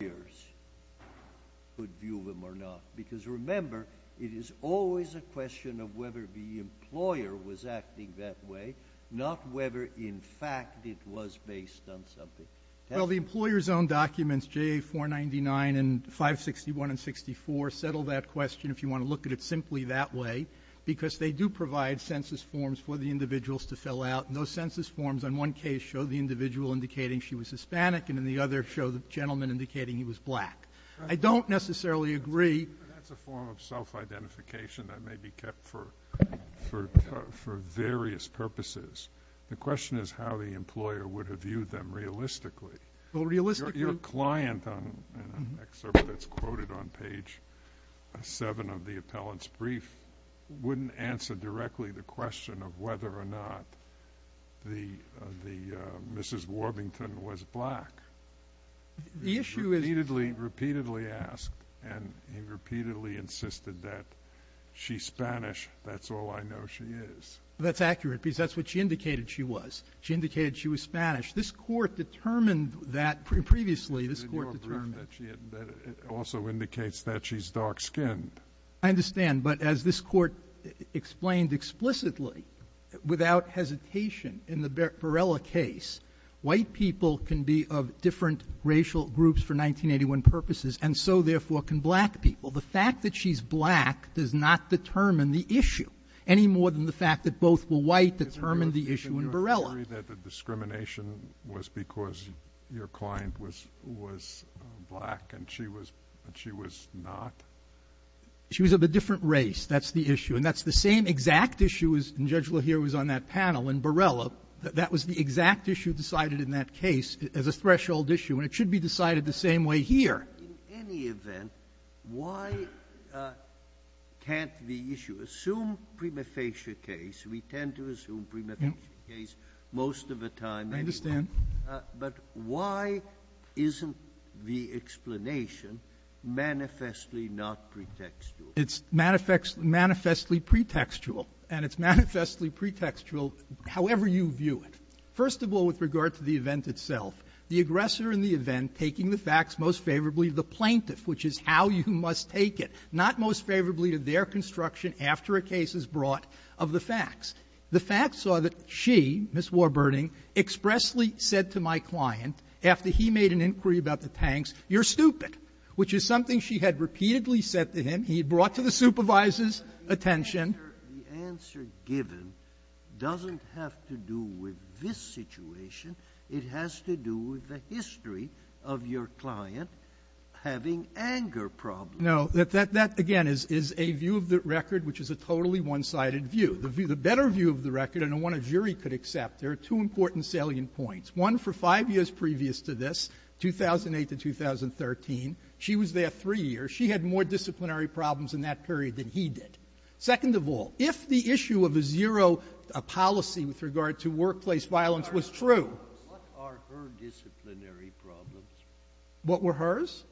The employer's own documents J.A. 499 and 561 and 64 settle that question if you want to look at it simply that way because they do provide census forms for the individuals to fill out and those census forms on one case show the individual indicating she was black. I don't necessarily agree. But that's a form of self-identification that may be kept for various purposes. The question is how the employer would have viewed them realistically. Your client in an excerpt that's quoted on page 7 of the appellant's brief wouldn't answer directly the question of whether or not Mrs. Warbington was black. He repeatedly asked and he repeatedly insisted that she's Spanish, that's all I know she is. That's accurate because that's what she indicated she was. She indicated she was Spanish. This Court determined that previously, this Court determined that she also indicates that she's dark-skinned. I understand. But as this Court explained explicitly without hesitation in the Barela case, white people can be of different racial groups for 1981 purposes and so, therefore, can black people. The fact that she's black does not determine the issue any more than the fact that both were white determined the issue in Barela. Is it your theory that the discrimination was because your client was black and she was not? She was of a different race. That's the issue. And that's the same exact issue as Judge Lahir was on that panel in Barela. That was the exact issue decided in that case as a threshold issue and it should be decided the same way here. In any event, why can't the issue assume prima facie case? We tend to assume prima facie case most of the time. I understand. But why isn't the explanation manifestly not pretextual? It's manifestly pretextual. And it's manifestly pretextual however you view it. First of all, with regard to the event itself, the aggressor in the event taking the facts most favorably to the plaintiff, which is how you must take it, not most favorably to their construction after a case is brought of the facts. The facts are that she, Ms. Warburton, expressly said to my client after he made an inquiry about the tanks, you're stupid, which is something she had repeatedly said to him. He brought to the supervisor's attention the answer given doesn't have to do with this situation. It has to do with the history of your client having anger problems. No. That again is a view of the record which is a totally one-sided view. The better view of the record and one a jury could accept, there are two important salient points, one for five years previous to this, 2008 to 2013. She was there three years. She had more disciplinary problems in that period than he did. Second of all, if the issue of a zero policy with regard to workplace violence was true ---- Breyer, what are her disciplinary problems? What were hers?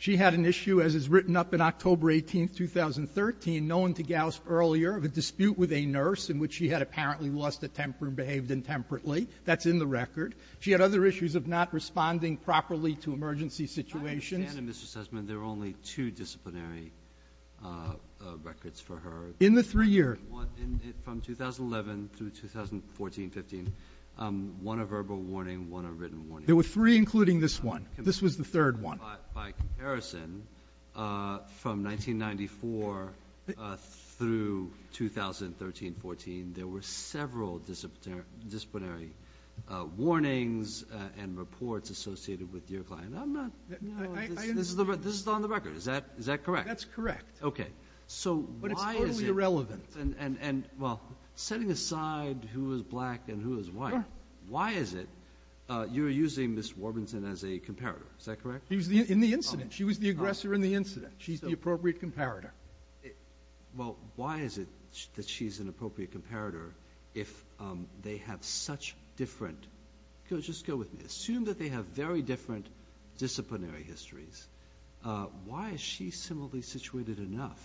She had an issue, as is written up in October 18th, 2013, known to Gauss earlier, of a dispute with a nurse in which she had apparently lost a temper and behaved intemperately. That's in the record. She had other issues of not responding properly to emergency situations. And, Mr. Sussman, there are only two disciplinary records for her. In the three years. One from 2011 through 2014, 15, one a verbal warning, one a written warning. There were three, including this one. This was the third one. By comparison, from 1994 through 2013, 14, there were several disciplinary warnings and reports associated with your client. And I'm not ---- I understand. This is on the record. Is that correct? That's correct. Okay. So why is it ---- But it's totally irrelevant. And, well, setting aside who is black and who is white, why is it you're using Ms. Warburton as a comparator? Is that correct? She was in the incident. She was the aggressor in the incident. She's the appropriate comparator. Well, why is it that she's an appropriate comparator if they have such different Just go with me. Assume that they have very different disciplinary histories. Why is she similarly situated enough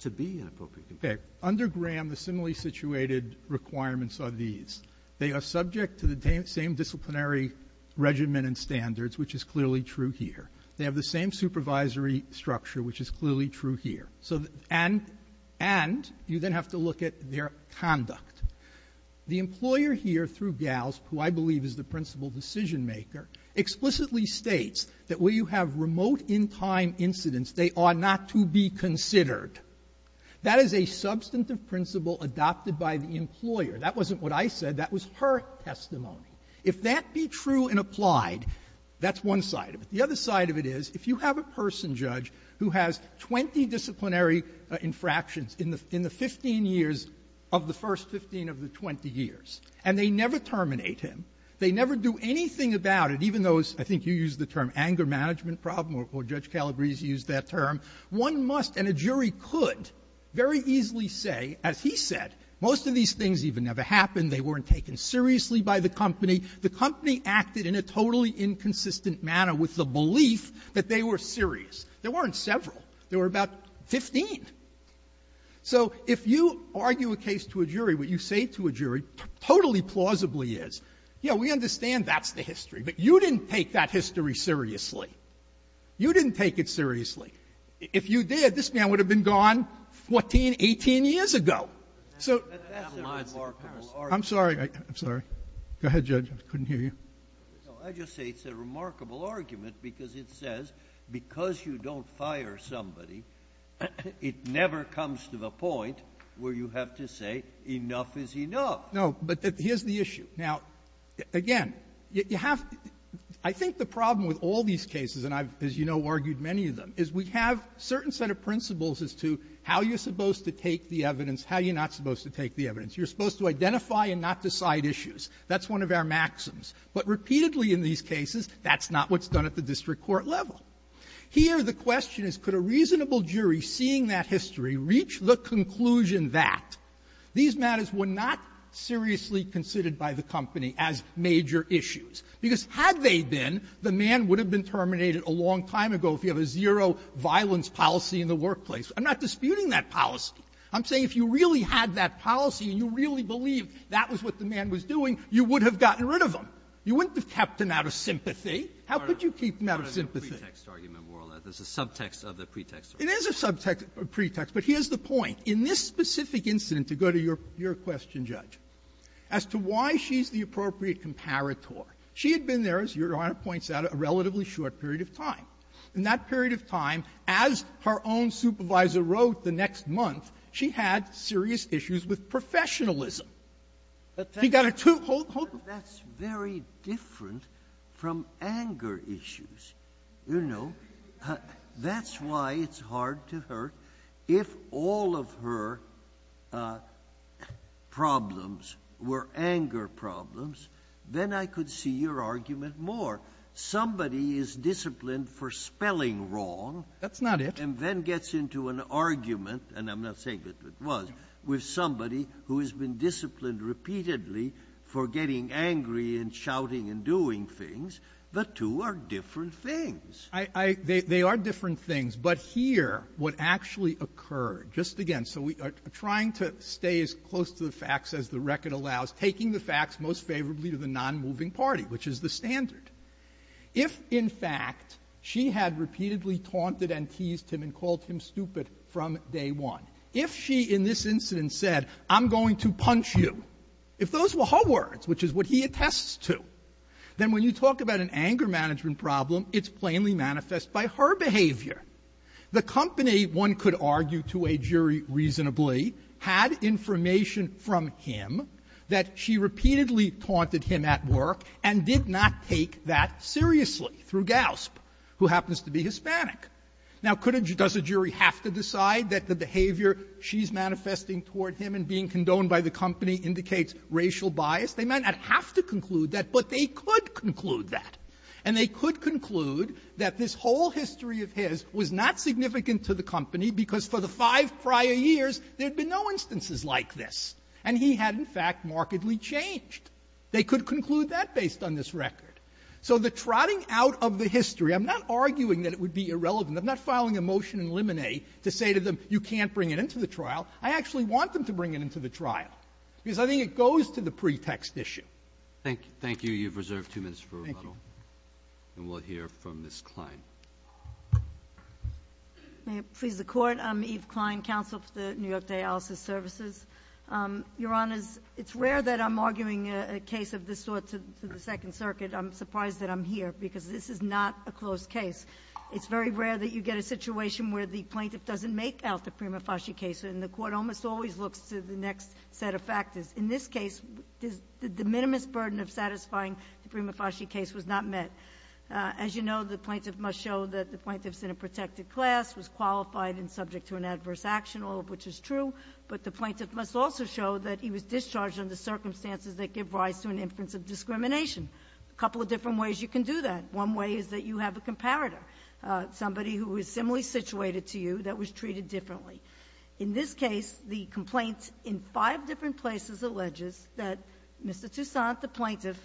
to be an appropriate comparator? Okay. Under Graham, the similarly situated requirements are these. They are subject to the same disciplinary regimen and standards, which is clearly true here. They have the same supervisory structure, which is clearly true here. So the ---- and you then have to look at their conduct. The employer here, through Gals, who I believe is the principal decisionmaker, explicitly states that where you have remote in-time incidents, they are not to be considered. That is a substantive principle adopted by the employer. That wasn't what I said. That was her testimony. If that be true and applied, that's one side of it. The other side of it is, if you have a person, Judge, who has 20 disciplinary infractions in the 15 years of the first 15 of the 20 years, and they never terminate him, they never do anything about it, even though it's ---- I think you used the term anger management problem, or Judge Calabresi used that term, one must and a jury could very easily say, as he said, most of these things even never happened. They weren't taken seriously by the company. The company acted in a totally inconsistent manner with the belief that they were serious. There weren't several. There were about 15. So if you argue a case to a jury, what you say to a jury totally plausibly is, yes, we understand that's the history, but you didn't take that history seriously. You didn't take it seriously. If you did, this man would have been gone 14, 18 years ago. So ---- I'm sorry. Go ahead, Judge. I couldn't hear you. Scalia. No. I just say it's a remarkable argument because it says because you don't fire somebody, it never comes to the point where you have to say enough is enough. Verrilli, No. But here's the issue. Now, again, you have to ---- I think the problem with all these cases, and I've, as you know, argued many of them, is we have a certain set of principles as to how you're supposed to take the evidence, how you're not supposed to take the evidence. You're supposed to identify and not decide issues. That's one of our maxims. But repeatedly in these cases, that's not what's done at the district court level. Here, the question is, could a reasonable jury seeing that history reach the conclusion that these matters were not seriously considered by the company as major issues? Because had they been, the man would have been terminated a long time ago if you have a zero-violence policy in the workplace. I'm not disputing that policy. I'm saying if you really had that policy and you really believed that was what the man was doing, you would have gotten rid of him. You wouldn't have kept him out of sympathy. How could you keep him out of sympathy? Breyer, it's not a pretext argument, more or less. It's a subtext of the pretext argument. It is a subtext of the pretext. But here's the point. In this specific incident, to go to your question, Judge, as to why she's the appropriate comparator, she had been there, as Your Honor points out, a relatively short period of time. In that period of time, as her own supervisor wrote the next month, she had serious issues with professionalism. She got a two-fold group of them. Sotomayor, that's very different from anger issues. You know, that's why it's hard to hurt. If all of her problems were anger problems, then I could see your argument more. Somebody is disciplined for spelling wrong. That's not it. And then gets into an argument, and I'm not saying that it was, with somebody who has been disciplined repeatedly for getting angry and shouting and doing things. The two are different things. I — they are different things. But here, what actually occurred, just again, so we are trying to stay as close to the facts as the record allows, taking the facts most favorably to the nonmoving party, which is the standard. If, in fact, she had repeatedly taunted and teased him and called him stupid from day one, if she, in this incident, said, I'm going to punch you, if those were her words, which is what he attests to, then when you talk about an anger management problem, it's plainly manifest by her behavior. The company, one could argue to a jury reasonably, had information from him that she repeatedly taunted him at work and did not take that seriously through Gausp, who happens to be Hispanic. Now, could a — does a jury have to decide that the behavior she's manifesting toward him and being condoned by the company indicates racial bias? They might not have to conclude that, but they could conclude that. And they could conclude that this whole history of his was not significant to the company because for the five prior years, there had been no instances like this, and he had, in fact, markedly changed. They could conclude that based on this record. So the trotting out of the history — I'm not arguing that it would be irrelevant. I'm not filing a motion in Lemonet to say to them, you can't bring it into the trial. I actually want them to bring it into the trial, because I think it goes to the pretext issue. Roberts. Thank you. Thank you. You've reserved two minutes for rebuttal. Thank you. And we'll hear from Ms. Klein. May it please the Court. I'm Eve Klein, counsel for the New York Dialysis Services. Your Honors, it's rare that I'm arguing a case of this sort to the Second Circuit. I'm surprised that I'm here, because this is not a closed case. It's very rare that you get a situation where the plaintiff doesn't make out the Prima Fasci case, and the Court almost always looks to the next set of factors. In this case, the de minimis burden of satisfying the Prima Fasci case was not met. As you know, the plaintiff must show that the plaintiff's in a protected class, was qualified and subject to an adverse action, all of which is true, but the plaintiff must also show that he was discharged under circumstances that give rise to an inference of discrimination. A couple of different ways you can do that. One way is that you have a comparator, somebody who is similarly situated to you that was treated differently. In this case, the complaint in five different places alleges that Mr. Toussaint, the plaintiff,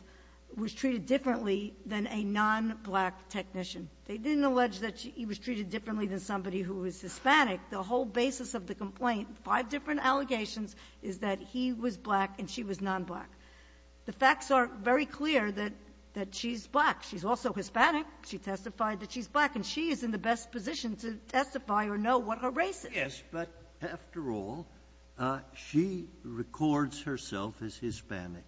was treated differently than a non-black technician. They didn't allege that he was treated differently than somebody who was Hispanic. The whole basis of the complaint, five different allegations, is that he was black and she was non-black. The facts are very clear that she's black. She's also Hispanic. She testified that she's black. And she is in the best position to testify or know what her race is. Yes, but after all, she records herself as Hispanic.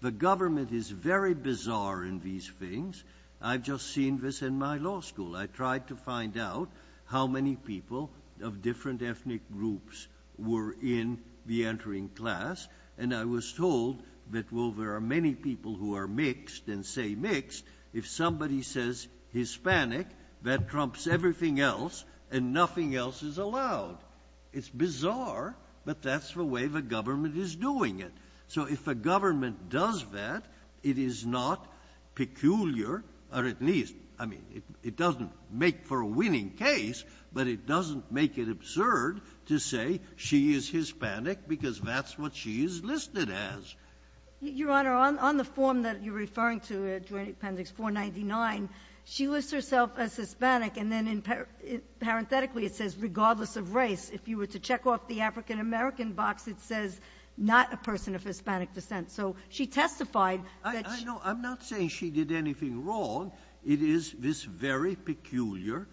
The government is very bizarre in these things. I've just seen this in my law school. I tried to find out how many people of different ethnic groups were in the entering class. And I was told that, well, there are many people who are mixed and say mixed. If somebody says Hispanic, that trumps everything else, and nothing else is allowed. It's bizarre, but that's the way the government is doing it. So if a government does that, it is not peculiar, or at least, I mean, it doesn't make for a winning case, but it doesn't make it absurd to say she is Hispanic because that's what she is listed as. Your Honor, on the form that you're referring to, Joint Appendix 499, she lists herself as Hispanic, and then, parenthetically, it says, regardless of race, if you were to check off the African-American box, it says, not a person of Hispanic descent. So she testified that she – I know. I'm not saying she did anything wrong. It is this very peculiar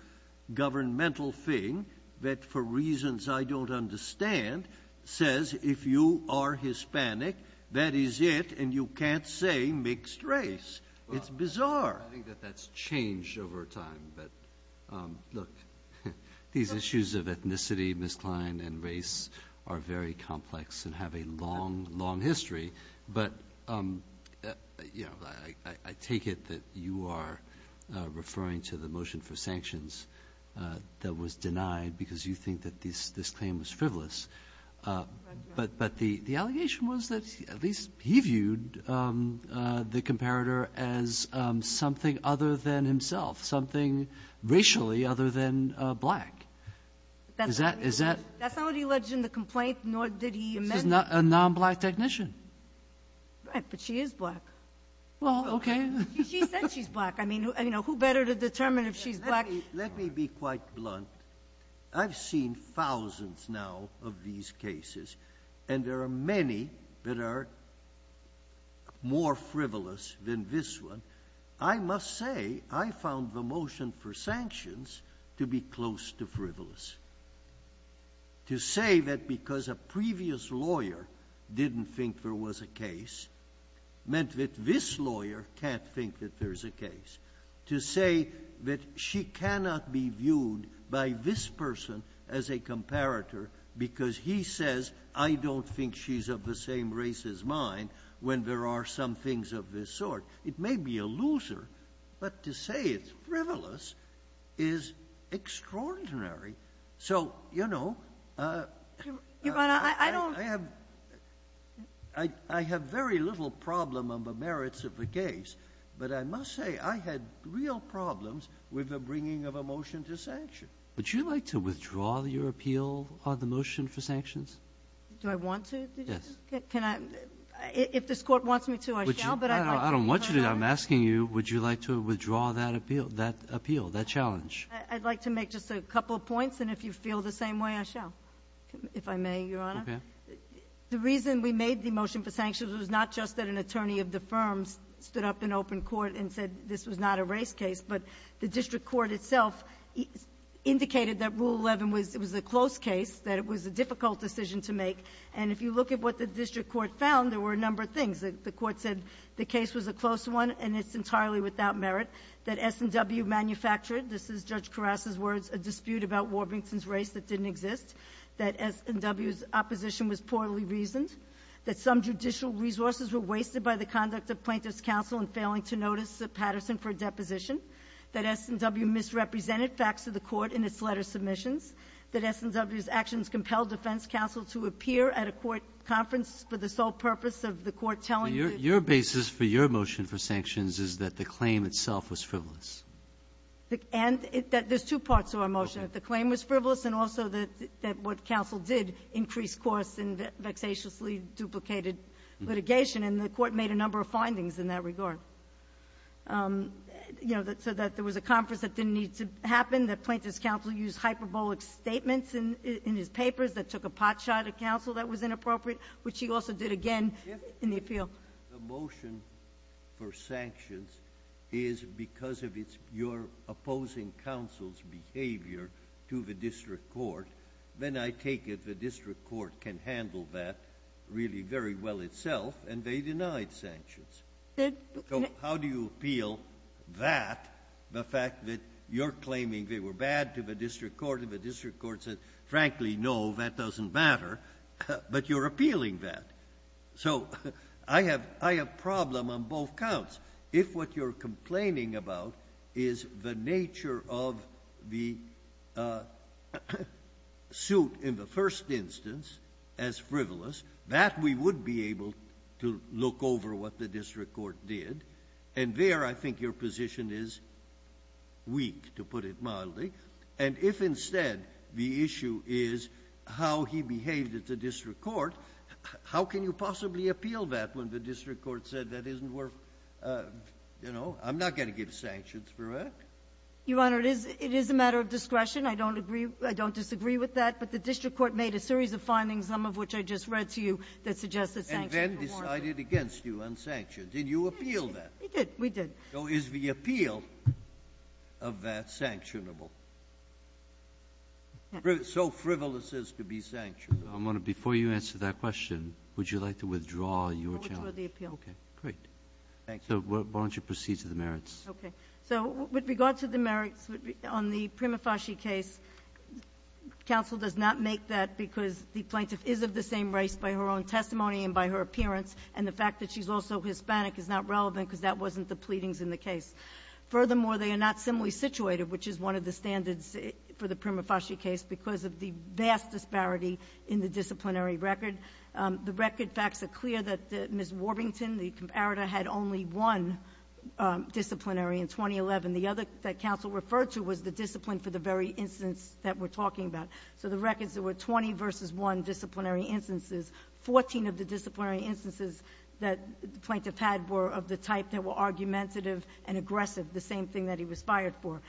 governmental thing that, for reasons I don't understand, says if you are Hispanic, that is it, and you can't say mixed race. It's bizarre. Well, I think that that's changed over time, but, look, these issues of ethnicity, Ms. Klein, and race are very complex and have a long, long history. But I take it that you are referring to the motion for sanctions that was denied because you think that this claim was frivolous. But the allegation was that at least he viewed the comparator as something other than himself, something racially other than black. Is that – That's not what he alleged in the complaint, nor did he amend it. This is a non-black technician. Right. But she is black. Well, okay. She said she's black. I mean, who better to determine if she's black? Let me be quite blunt. I've seen thousands now of these cases, and there are many that are more frivolous than this one. I must say, I found the motion for sanctions to be close to frivolous. To say that because a previous lawyer didn't think there was a case meant that this lawyer can't think that there's a case. To say that she cannot be viewed by this person as a comparator because he says, I don't think she's of the same race as mine when there are some things of this sort. It may be a loser, but to say it's frivolous is extraordinary. So you know, I have very little problem on the merits of the case. But I must say, I had real problems with the bringing of a motion to sanction. Would you like to withdraw your appeal on the motion for sanctions? Do I want to? Yes. Can I? If this Court wants me to, I shall, but I'd like to be heard. I don't want you to. I'm asking you, would you like to withdraw that appeal, that appeal, that challenge? I'd like to make just a couple of points, and if you feel the same way, I shall, if I may, Your Honor. Okay. The reason we made the motion for sanctions was not just that an attorney of the firm stood up in open court and said this was not a race case, but the district court itself indicated that Rule 11 was a close case, that it was a difficult decision to make. And if you look at what the district court found, there were a number of things. The court said the case was a close one and it's entirely without merit, that S&W manufactured — this is Judge Karras' words — a dispute about Warbington's race that didn't exist, that S&W's opposition was poorly reasoned, that some judicial resources were wasted by the conduct of plaintiff's counsel in failing to notice Patterson for a deposition, that S&W misrepresented facts of the court in its letter submissions, that S&W's actions compelled defense counsel to appear at a court conference for the sole purpose of the court telling the — Your basis for your motion for sanctions is that the claim itself was frivolous. And there's two parts to our motion, that the claim was frivolous and also that what And the court made a number of findings in that regard, you know, so that there was a conference that didn't need to happen, that plaintiff's counsel used hyperbolic statements in his papers that took a potshot at counsel that was inappropriate, which he also did again in the appeal. If the motion for sanctions is because of your opposing counsel's behavior to the district court, then I take it the district court can handle that really very well itself, and they denied sanctions. So how do you appeal that, the fact that you're claiming they were bad to the district court and the district court said, frankly, no, that doesn't matter, but you're appealing that? So I have — I have problem on both counts. If what you're complaining about is the nature of the suit in the first instance as frivolous, that we would be able to look over what the district court did. And there I think your position is weak, to put it mildly. And if instead the issue is how he behaved at the district court, how can you possibly appeal that when the district court said that isn't worth, you know, I'm not going to give sanctions for that? Your Honor, it is a matter of discretion. I don't agree — I don't disagree with that. But the district court made a series of findings, some of which I just read to you, that suggests that sanctions were warranted. And then decided against you on sanctions. Did you appeal that? We did. We did. So is the appeal of that sanctionable? So frivolous as to be sanctioned. I'm going to — before you answer that question, would you like to withdraw your challenge? I'll withdraw the appeal. Okay. Great. Thank you. So why don't you proceed to the merits? Okay. So with regard to the merits on the Prima Fasci case, counsel does not make that because the plaintiff is of the same race by her own testimony and by her appearance. And the fact that she's also Hispanic is not relevant because that wasn't the pleadings Furthermore, they are not similarly situated, which is one of the standards for the Prima in the disciplinary record. The record facts are clear that Ms. Warbington, the comparator, had only one disciplinary in 2011. The other that counsel referred to was the discipline for the very instance that we're talking about. So the records, there were 20 versus 1 disciplinary instances. 14 of the disciplinary instances that the plaintiff had were of the type that were argumentative and aggressive, the same thing that he was fired for.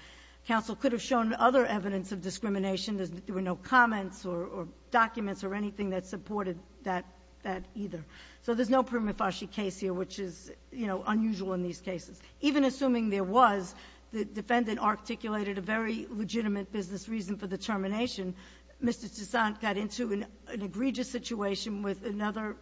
Counsel could have shown other evidence of discrimination. There were no comments or documents or anything that supported that either. So there's no Prima Fasci case here, which is, you know, unusual in these cases. Even assuming there was, the defendant articulated a very legitimate business reason for the termination. Mr. Toussaint got into an egregious situation with another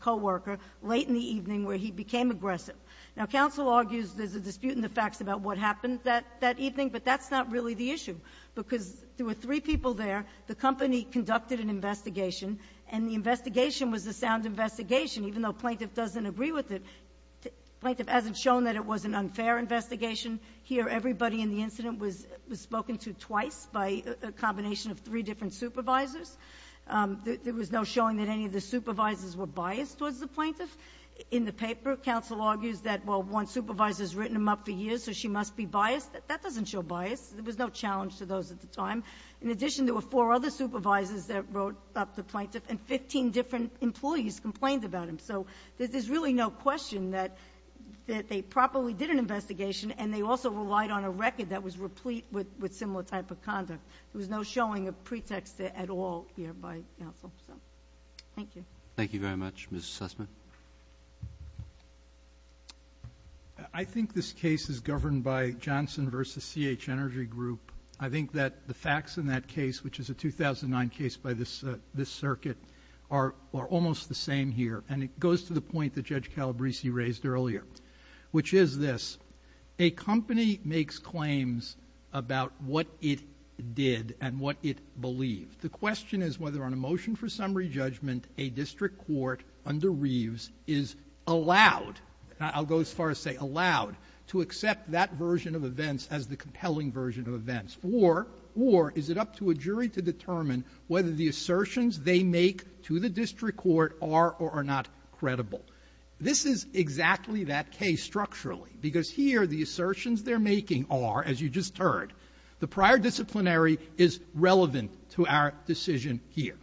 coworker late in the evening where he became aggressive. Now, counsel argues there's a dispute in the facts about what happened that evening, but that's not really the issue. Because there were three people there. The company conducted an investigation, and the investigation was a sound investigation, even though the plaintiff doesn't agree with it. The plaintiff hasn't shown that it was an unfair investigation. Here, everybody in the incident was spoken to twice by a combination of three different supervisors. There was no showing that any of the supervisors were biased towards the plaintiff. In the paper, counsel argues that, well, one supervisor has written him up for years, so she must be biased. That doesn't show bias. There was no challenge to those at the time. In addition, there were four other supervisors that wrote up the plaintiff, and 15 different employees complained about him. So, there's really no question that they properly did an investigation, and they also relied on a record that was replete with similar type of conduct. There was no showing of pretext at all here by counsel. So, thank you. Thank you very much. Mr. Sussman? I think this case is governed by Johnson v. CH Energy Group. I think that the facts in that case, which is a 2009 case by this circuit, are almost the same here, and it goes to the point that Judge Calabresi raised earlier, which is this. A company makes claims about what it did and what it believed. The question is whether, on a motion for summary judgment, a district court under Reeves is allowed, I'll go as far as say allowed, to accept that version of events as the compelling version of events, or is it up to a jury to determine whether the assertions they make to the district court are or are not credible. This is exactly that case structurally, because here, the assertions they're making are, as you just heard, the prior disciplinary is relevant to our decision here.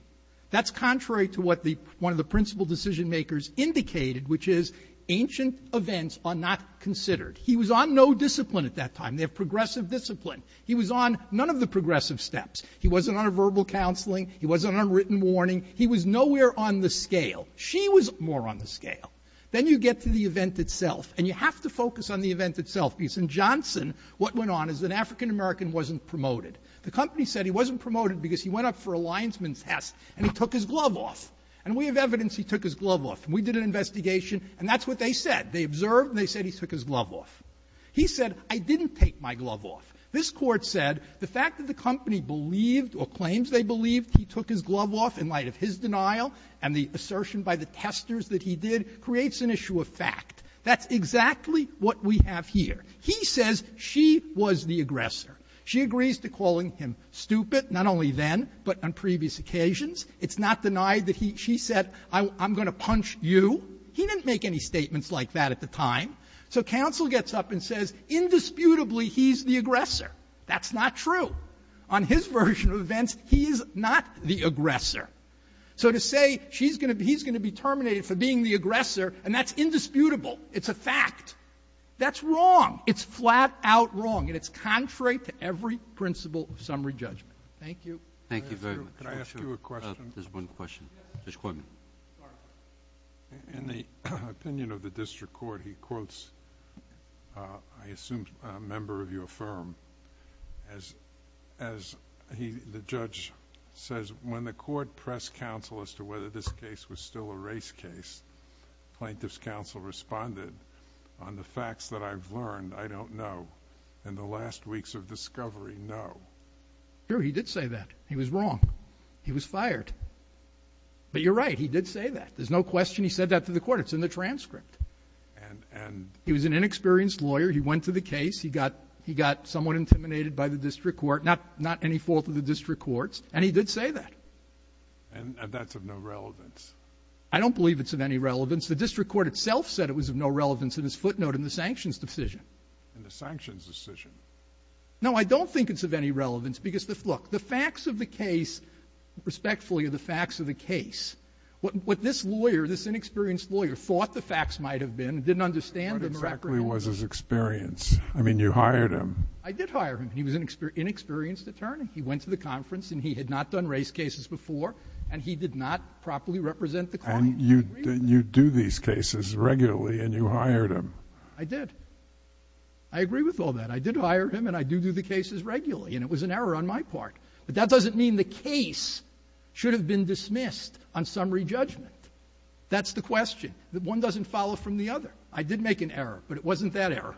That's contrary to what the one of the principal decision-makers indicated, which is ancient events are not considered. He was on no discipline at that time. They have progressive discipline. He was on none of the progressive steps. He wasn't on a verbal counseling. He wasn't on written warning. He was nowhere on the scale. She was more on the scale. Then you get to the event itself, and you have to focus on the event itself, because in Johnson, what went on is an African-American wasn't promoted. The company said he wasn't promoted because he went up for a linesman's test, and he took his glove off. And we have evidence he took his glove off. We did an investigation, and that's what they said. They observed, and they said he took his glove off. He said, I didn't take my glove off. This Court said the fact that the company believed or claims they believed he took his glove off in light of his denial and the assertion by the testers that he did creates an issue of fact. That's exactly what we have here. He says she was the aggressor. She agrees to calling him stupid, not only then, but on previous occasions. It's not denied that he — she said, I'm going to punch you. He didn't make any statements like that at the time. So counsel gets up and says, indisputably, he's the aggressor. That's not true. On his version of events, he is not the aggressor. So to say she's going to be — he's going to be terminated for being the aggressor, and that's indisputable. It's a fact. That's wrong. It's flat-out wrong, and it's contrary to every principle of summary judgment. Thank you. Thank you very much. Could I ask you a question? There's one question. Judge Quigley. In the opinion of the district court, he quotes, I assume, a member of your firm as he — the judge says, when the court pressed counsel as to whether this case was still a race case, plaintiff's counsel responded, on the facts that I've learned, I don't know. In the last weeks of discovery, no. Sure, he did say that. He was wrong. He was fired. But you're right. He did say that. There's no question he said that to the court. It's in the transcript. And — He was an inexperienced lawyer. He went to the case. He got — he got somewhat intimidated by the district court. Not any fault of the district court's. And he did say that. And that's of no relevance. I don't believe it's of any relevance. The district court itself said it was of no relevance in his footnote in the sanctions decision. In the sanctions decision? No, I don't think it's of any relevance, because, look, the facts of the case, respectfully, are the facts of the case. What this lawyer, this inexperienced lawyer, thought the facts might have been, didn't understand them or — What exactly was his experience? I mean, you hired him. I did hire him. And he was an inexperienced attorney. He went to the conference. And he had not done race cases before. And he did not properly represent the court. And you do these cases regularly, and you hired him. I did. I agree with all that. I did hire him. And I do do the cases regularly. And it was an error on my part. But that doesn't mean the case should have been dismissed on summary judgment. That's the question. One doesn't follow from the other. I did make an error. But it wasn't that error.